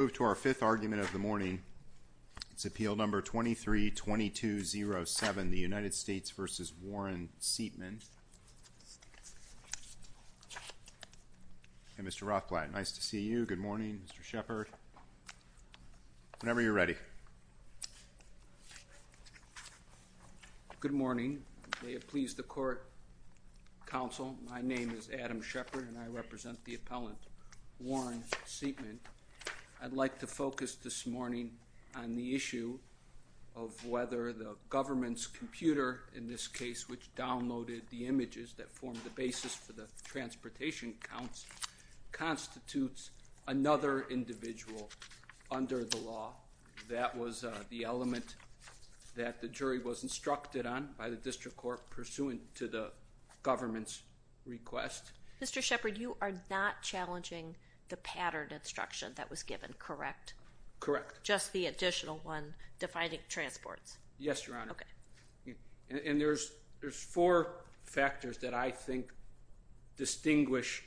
Mr. Rothblatt, nice to see you. Good morning, Mr. Shepard. Whenever you're ready. Good morning. May it please the court, counsel, my name is Adam Shepard and I represent the like to focus this morning on the issue of whether the government's computer in this case which downloaded the images that formed the basis for the transportation counts constitutes another individual under the law. That was the element that the jury was instructed on by the district court pursuant to the government's request. Mr. Shepard, you are not challenging the pattern instruction that was given, correct? Correct. Just the additional one defining transports? Yes, Your Honor. Okay. And there's four factors that I think distinguish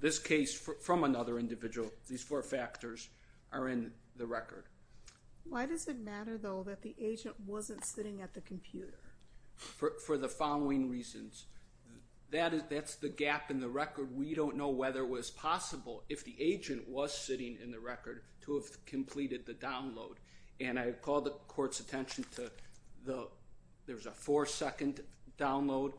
this case from another individual. These four factors are in the record. Why does it matter though that the agent wasn't sitting at the computer? For the following reasons. That's the gap in the record. We don't know whether it was possible if the agent was sitting in the record to have completed the download. And I call the court's attention to the, there's a four second download,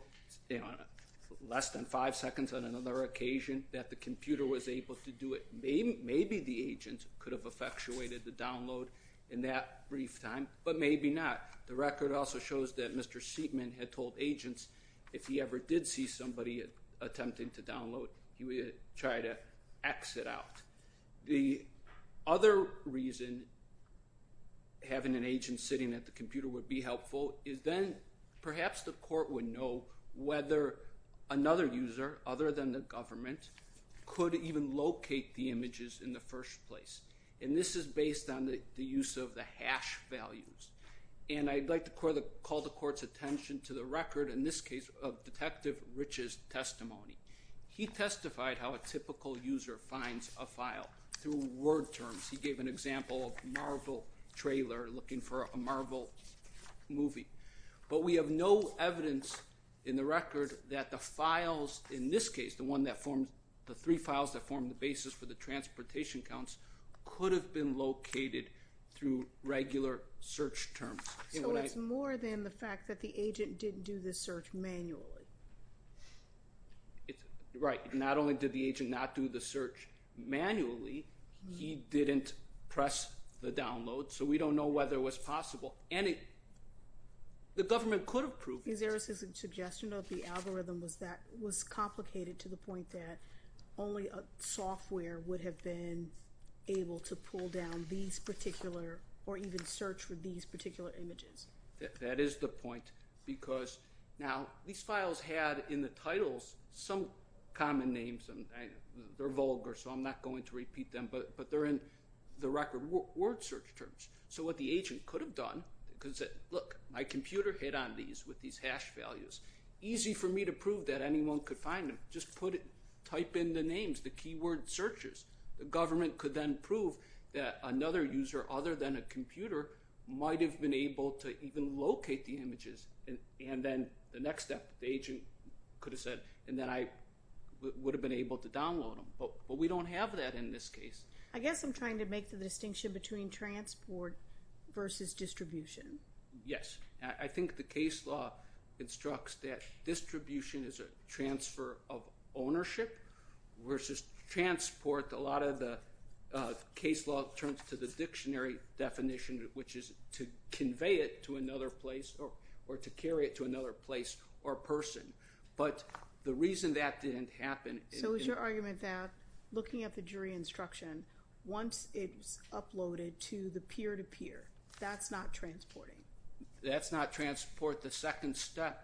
less than five seconds on another occasion that the computer was able to do it. Maybe the agent could have effectuated the download in that brief time, but maybe not. The record also shows that Mr. Siepman had told agents if he ever did see somebody attempting to download, he would try to exit out. The other reason having an agent sitting at the computer would be helpful is then perhaps the court would know whether another user other than the government could even locate the images in the first place. And this is based on the use of the hash values. And I'd like to call the court's attention to the testimony. He testified how a typical user finds a file through word terms. He gave an example of Marvel trailer looking for a Marvel movie. But we have no evidence in the record that the files in this case, the three files that form the basis for the transportation counts could have been located through regular search terms. So it's more than the fact that the agent didn't do this search manually. Right. Not only did the agent not do the search manually, he didn't press the download. So we don't know whether it was possible. And the government could have proved it. Is there a suggestion of the algorithm was that was complicated to the point that only a software would have been able to pull down these particular or even search for these particular images? That is the point. Because now these files had in the titles some common names. They're vulgar so I'm not going to repeat them. But they're in the record word search terms. So what the agent could have done, could have said, look, my computer hit on these with these hash values. Easy for me to prove that anyone could find them. Just put it, type in the names, the keyword searches. The government could then prove that another user other than a computer might have been able to even locate the images. And then the next step, the agent could have said, and then I would have been able to download them. But we don't have that in this case. I guess I'm trying to make the distinction between transport versus distribution. Yes. I think the case law instructs that distribution is a transfer of ownership versus transport. A lot of the case law turns to the dictionary definition which is to convey it to another place or to carry it to another place or person. But the reason that didn't happen. So is your argument that looking at the jury instruction, once it's uploaded to the peer-to-peer, that's not transporting? That's not transport. The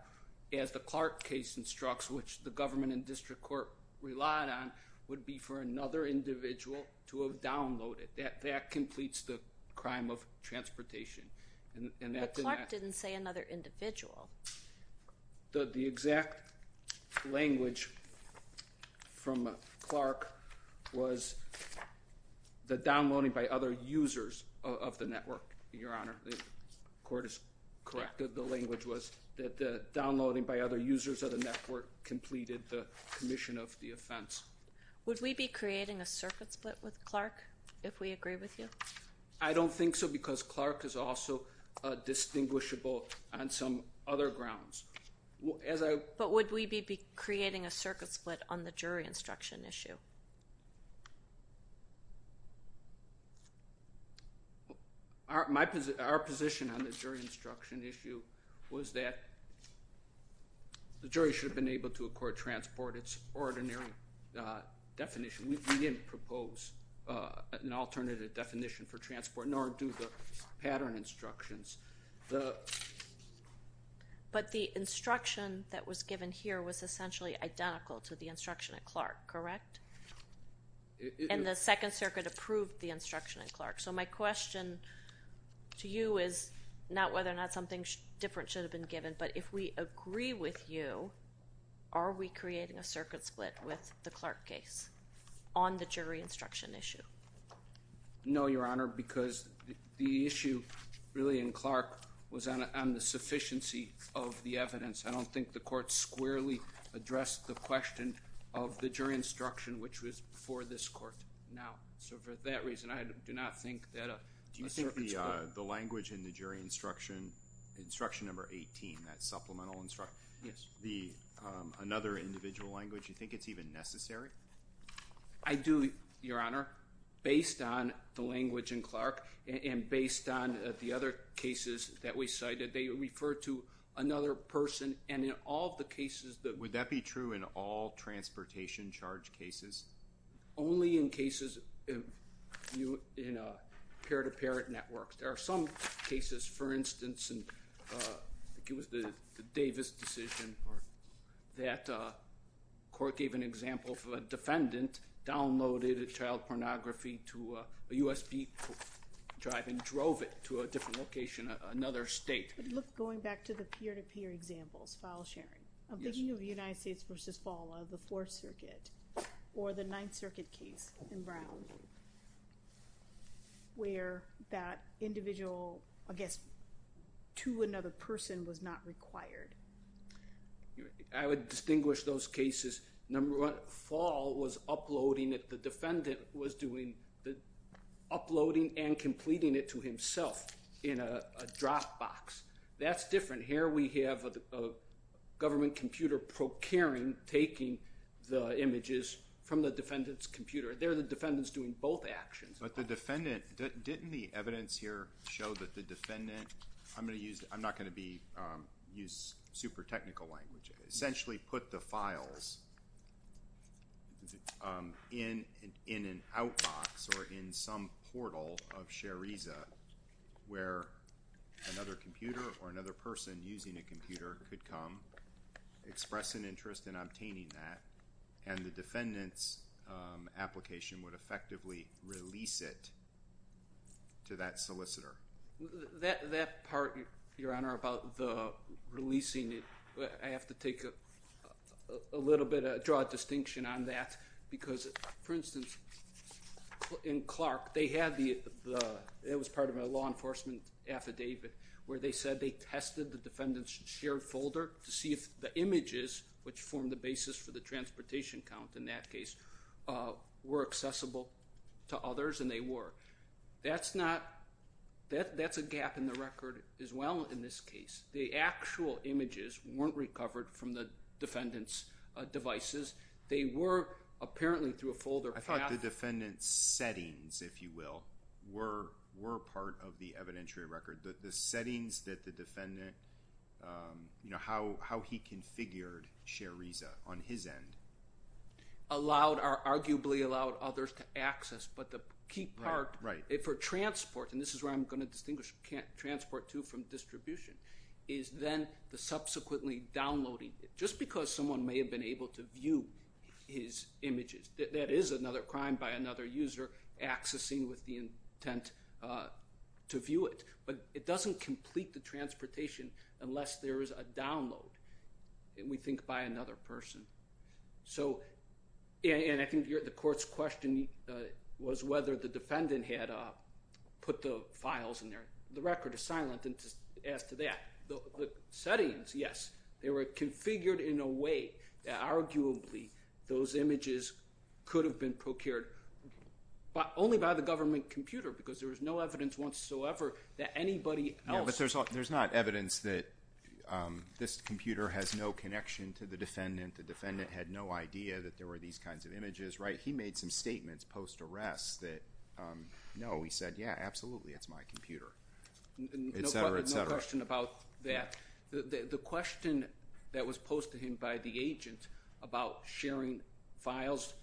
Clark case instructs, which the government and district court relied on, would be for another individual to have downloaded. That completes the crime of transportation. But Clark didn't say another individual. The exact language from Clark was that downloading by other users of the network, Your Honor. The court is correct. The language was that downloading by other users of the network completed the commission of the offense. Would we be creating a circuit split with Clark if we agree with you? I don't think so because Clark is also a distinguishable on some other grounds. But would we be creating a circuit split on the jury instruction issue? Our position on the jury instruction issue was that, yes, the jury should have been able to accord transport its ordinary definition. We didn't propose an alternative definition for transport, nor do the pattern instructions. But the instruction that was given here was essentially identical to the instruction at Clark, correct? And the Second Circuit approved the instruction at Clark. So my question to you is not whether or not something different should have been given, but if we agree with you, are we creating a circuit split with the Clark case on the jury instruction issue? No, Your Honor, because the issue really in Clark was on the sufficiency of the evidence. I don't think the court squarely addressed the question of the jury instruction, which was for this court now. So for that instruction number 18, that supplemental instruction, another individual language, you think it's even necessary? I do, Your Honor, based on the language in Clark and based on the other cases that we cited, they refer to another person and in all the cases that... Would that be true in all transportation charge cases? Only in cases in a peer-to-peer network. There are some cases, for instance, I think it was the Davis decision that a court gave an example of a defendant downloaded a child pornography to a USB drive and drove it to a different location, another state. But look, going back to the peer-to-peer examples, file sharing, I'm thinking of the United States v. FALA, the Fourth Circuit, or the Ninth Circuit, where the individual, I guess, to another person was not required. I would distinguish those cases. Number one, FALA was uploading it. The defendant was doing the uploading and completing it to himself in a Dropbox. That's different. Here we have a government computer procuring, taking the images from the defendant's computer. There the defendant's doing both actions. But the defendant... Didn't the evidence here show that the defendant... I'm going to use... I'm not going to be... Use super technical language. Essentially put the files in an outbox or in some portal of Shareeza where another computer or another person using a computer could come, express an interest in obtaining that, and the defendant's application would effectively release it to that solicitor. That part, Your Honor, about the releasing it, I have to take a little bit, draw a distinction on that because, for instance, in Clark, they had the... It was part of a law enforcement affidavit where they said they tested the defendant's shared folder to see if the images, which formed the basis for the transportation count in that case, were accessible to others, and they were. That's not... That's a gap in the record as well in this case. The actual images weren't recovered from the defendant's devices. They were apparently through a folder path... I thought the defendant's settings, if you will, were part of the evidentiary record. The settings that the defendant... How he configured Shareeza on his end. Allowed or arguably allowed others to access, but the key part for transport, and this is where I'm going to distinguish transport too from distribution, is then the subsequently downloading. Just because someone may have been able to view his images, that is another crime by another user accessing with the intent to view it, but it doesn't complete the transportation unless there is a download, we think, by another person. I think the court's question was whether the defendant had put the files in there. The record is silent as to that. The settings, yes, they were configured in a way that arguably those images could have been procured only by the government computer because there was no evidence whatsoever that anybody else... Yeah, but there's not evidence that this computer has no connection to the defendant. The defendant had no idea that there were these kinds of images, right? He made some statements post-arrest that, no, he said, yeah, absolutely, it's my computer, et cetera, et cetera. No question about that. The question that was raised was whether he was sharing files.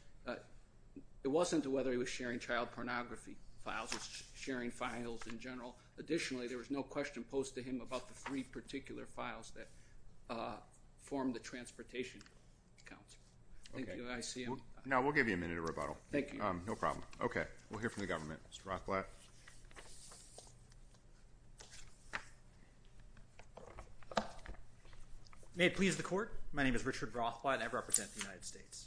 It wasn't whether he was sharing child pornography files, he was sharing files in general. Additionally, there was no question posed to him about the three particular files that formed the transportation counts. Thank you, I see him. No, we'll give you a minute of rebuttal. Thank you. No problem. Okay, we'll hear from the government. Mr. Rothblatt. May it please the court, my name is Richard Rothblatt and I represent the United States.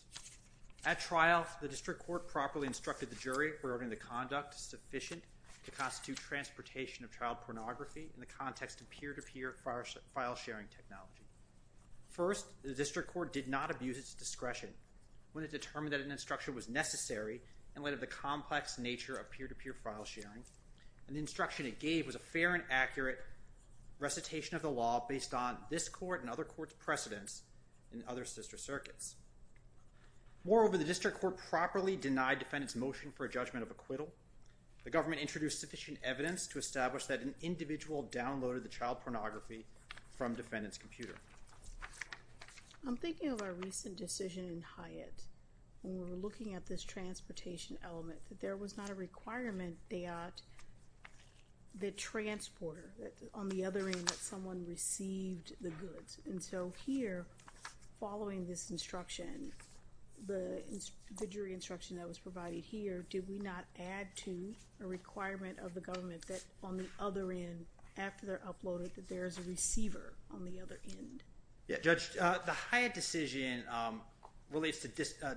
At trial, the district court properly instructed the jury regarding the conduct sufficient to constitute transportation of child pornography in the context of peer-to-peer file sharing technology. First, the district court did not abuse its discretion when it determined that an instruction was necessary in light of the complex nature of peer-to-peer file sharing and the instruction it gave was a fair and accurate recitation of the law based on this court and other courts' precedents in other sister circuits. Moreover, the district court properly denied defendant's motion for a judgment of acquittal. The government introduced sufficient evidence to establish that an individual downloaded the child pornography from defendant's when we were looking at this transportation element, that there was not a requirement that the transporter, on the other end, that someone received the goods. And so here, following this instruction, the jury instruction that was provided here, did we not add to a requirement of the government that on the other end, after they're uploaded, that there is a receiver on the other end? Yeah, Judge, the Hyatt decision relates to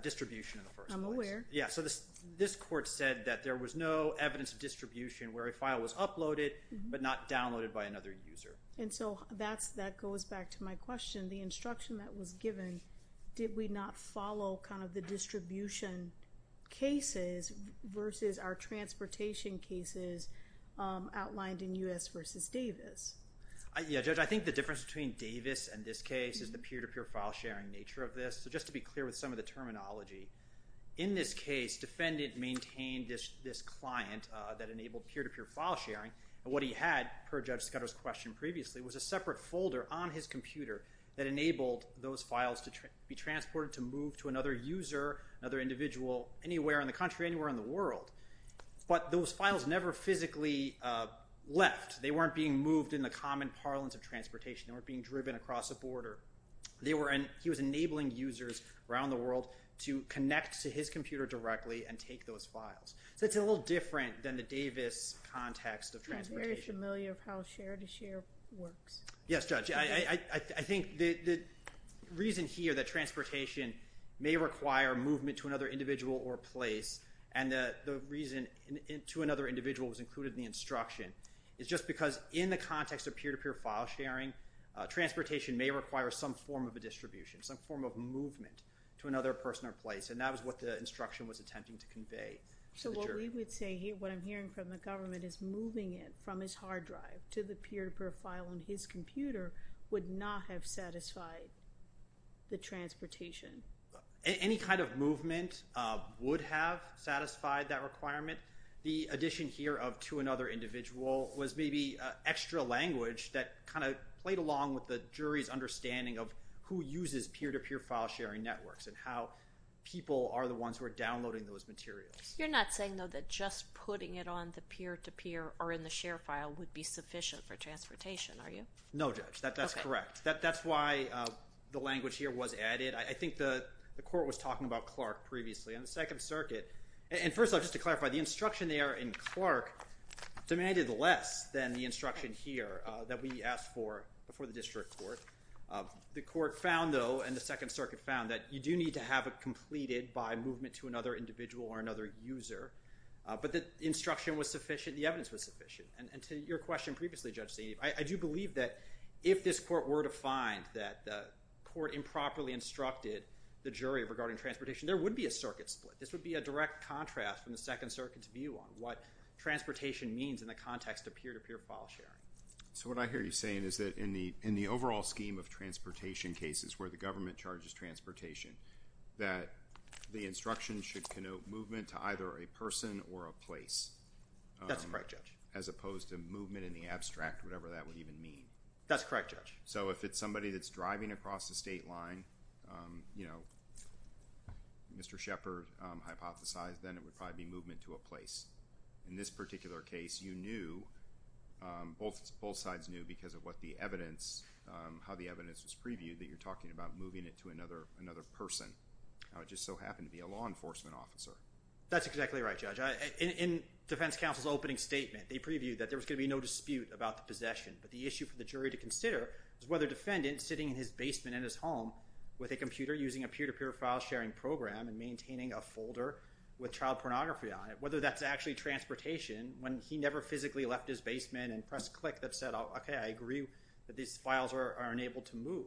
distribution in the first place. I'm aware. Yeah, so this court said that there was no evidence of distribution where a file was uploaded but not downloaded by another user. And so that goes back to my question. The instruction that was given, did we not follow kind of the distribution cases versus our transportation cases outlined in U.S. v. Davis? Yeah, Judge, I think the difference between Davis and this case is the peer-to-peer file sharing nature of this. So just to be clear with some of the terminology, in this case, defendant maintained this client that enabled peer-to-peer file sharing. And what he had, per Judge Scudero's question previously, was a separate folder on his computer that enabled those files to be transported to move to another user, another individual, anywhere in the country, anywhere in the world. But those files never physically left. They weren't being moved in the common parlance of transportation. They weren't being driven across a border. They were, and he was enabling users around the world to connect to his computer directly and take those files. So it's a little different than the Davis context of transportation. Yeah, very familiar of how share-to-share works. Yes, Judge. I think the reason here that transportation may require movement to another individual or place, and the reason to another individual was included in the instruction, is just because in the context of peer-to-peer file sharing, transportation may require some form of a distribution, some form of movement to another person or place. And that was what the instruction was attempting to convey. So what we would say here, what I'm hearing from the government is moving it from his hard drive to the peer-to-peer file on his computer would not have satisfied the transportation. Any kind of movement would have satisfied that requirement. The addition here of to another individual was maybe extra language that kind of played along with the jury's understanding of who uses peer-to-peer file sharing networks and how people are the ones who are downloading those materials. You're not saying, though, that just putting it on the peer-to-peer or in the share file would be sufficient for transportation, are you? No, Judge. That's correct. That's why the language here was added. I think the court was talking about Clark previously. On the Second Circuit, and first off, just to clarify, the instruction there in Clark demanded less than the instruction here that we asked for before the district court. The court found, though, and the Second Circuit found, that you do need to have it completed by movement to another individual or another user. But the instruction was sufficient, the evidence was sufficient. And to your question previously, Judge Saini, I do believe that if this court were to find that the court improperly instructed the jury regarding transportation, there would be a circuit split. This would be a direct contrast from the Second Circuit's view on what transportation means in the context of peer-to-peer file sharing. So what I hear you saying is that in the overall scheme of transportation cases, where the government charges transportation, that the instruction should connote movement to either a person or a place. That's correct, Judge. As opposed to movement in the abstract, whatever that would even mean. That's correct, Judge. So if it's somebody that's driving across the state line, you know, Mr. Shepard hypothesized then it would probably be movement to a place. In this particular case, you knew, both sides knew because of what the evidence, how the evidence was previewed that you're talking about moving it to another person. It just so happened to be a law enforcement officer. That's exactly right, Judge. In defense counsel's opening statement, they previewed that there was going to be no dispute about the possession. But the issue for the jury to consider is another defendant sitting in his basement in his home with a computer using a peer-to-peer file sharing program and maintaining a folder with child pornography on it, whether that's actually transportation when he never physically left his basement and pressed click that said, okay, I agree that these files are unable to move.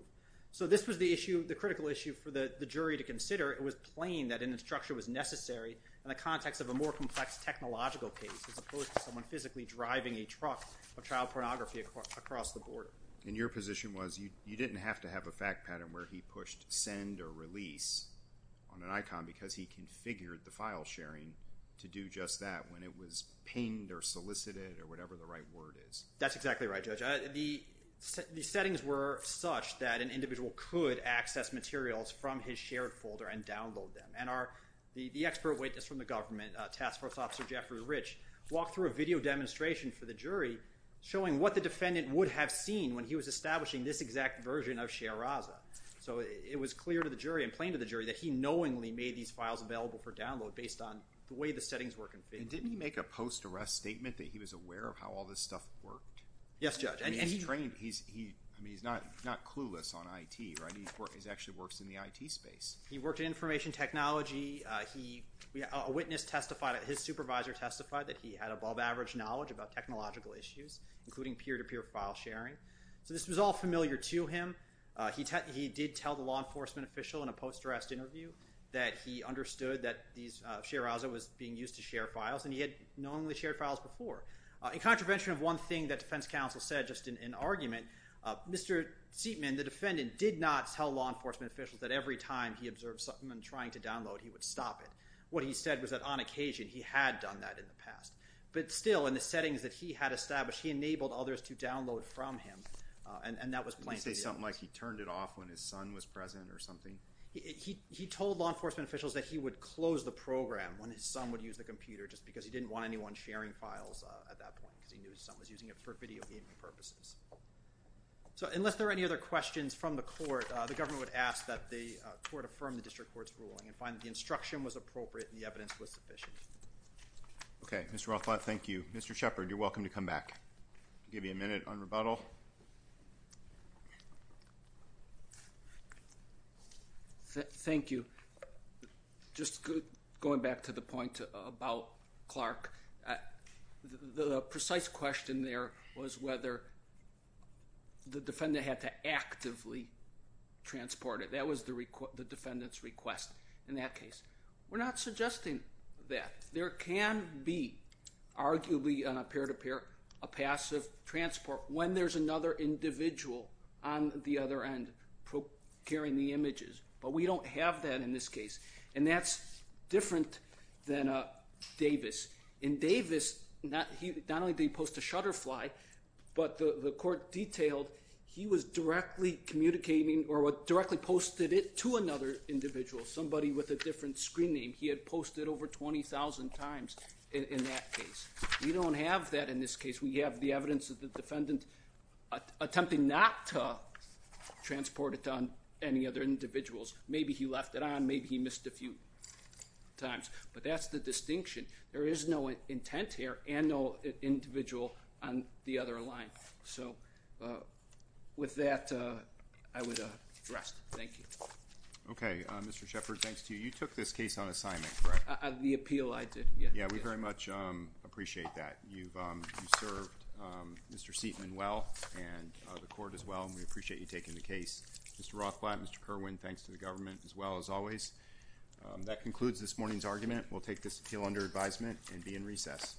So this was the issue, the critical issue for the jury to consider. It was plain that an instruction was necessary in the context of a more complex technological case as opposed to someone physically driving a truck of child You didn't have to have a fact pattern where he pushed send or release on an icon because he configured the file sharing to do just that when it was pinged or solicited or whatever the right word is. That's exactly right, Judge. The settings were such that an individual could access materials from his shared folder and download them. And the expert witness from the government, Task Force Officer Jeffrey Rich, walked through a video demonstration for the jury showing what the defendant would have seen when he was establishing this exact version of ShareRaza. So it was clear to the jury and plain to the jury that he knowingly made these files available for download based on the way the settings were configured. And didn't he make a post-arrest statement that he was aware of how all this stuff worked? Yes, Judge. I mean, he's trained. He's not clueless on IT, right? He actually works in the IT space. He worked in information technology. A witness testified, his supervisor testified that he had above average knowledge about technological issues, including peer-to-peer file sharing. So this was all familiar to him. He did tell the law enforcement official in a post-arrest interview that he understood that ShareRaza was being used to share files and he had knowingly shared files before. In contravention of one thing that defense counsel said just in argument, Mr. Seatman, the defendant, did not tell law enforcement officials that every time he observed something and trying to download, he would stop it. What he said was that on occasion he had done that in the past. But still, in the settings that he had established, he enabled others to download from him. And that was plain to the audience. Did he say something like he turned it off when his son was present or something? He told law enforcement officials that he would close the program when his son would use the computer just because he didn't want anyone sharing files at that point, because he knew his son was using it for video gaming purposes. So unless there are any other questions from the court, the government would ask that the court affirm the district court's ruling and find that the instruction was appropriate and the evidence was sufficient. Okay. Mr. Rothblatt, thank you. Mr. Shepherd, you're welcome to come back. I'll give you a minute on rebuttal. Thank you. Just going back to the point about Clark, the precise question there was whether the defendant had to actively transport it. That was the defendant's request in that case. We're not suggesting that. There can be, arguably on a pair-to-pair, a passive transport when there's another individual on the other end carrying the images. But we don't have that in this case. And that's different than Davis. In Davis, not only did he post a shutterfly, but the court detailed he was directly communicating or directly posted it to another individual, somebody with a different screen name. He had posted over 20,000 times in that case. We don't have that in this case. We have the evidence that the defendant attempted not to transport it to any other individuals. Maybe he left it on. Maybe he missed a few times. But that's the distinction. There is no intent here and no individual on the other line. So, with that, I would address. Thank you. Okay. Mr. Shepard, thanks to you. You took this case on assignment, correct? The appeal I did, yes. Yeah, we very much appreciate that. You've served Mr. Seitman well and the court as well. We appreciate you taking the case. Mr. Rothblatt, Mr. Kerwin, thanks to the government as well as always. That concludes this morning's argument. We'll take this appeal under advisement and be in recess.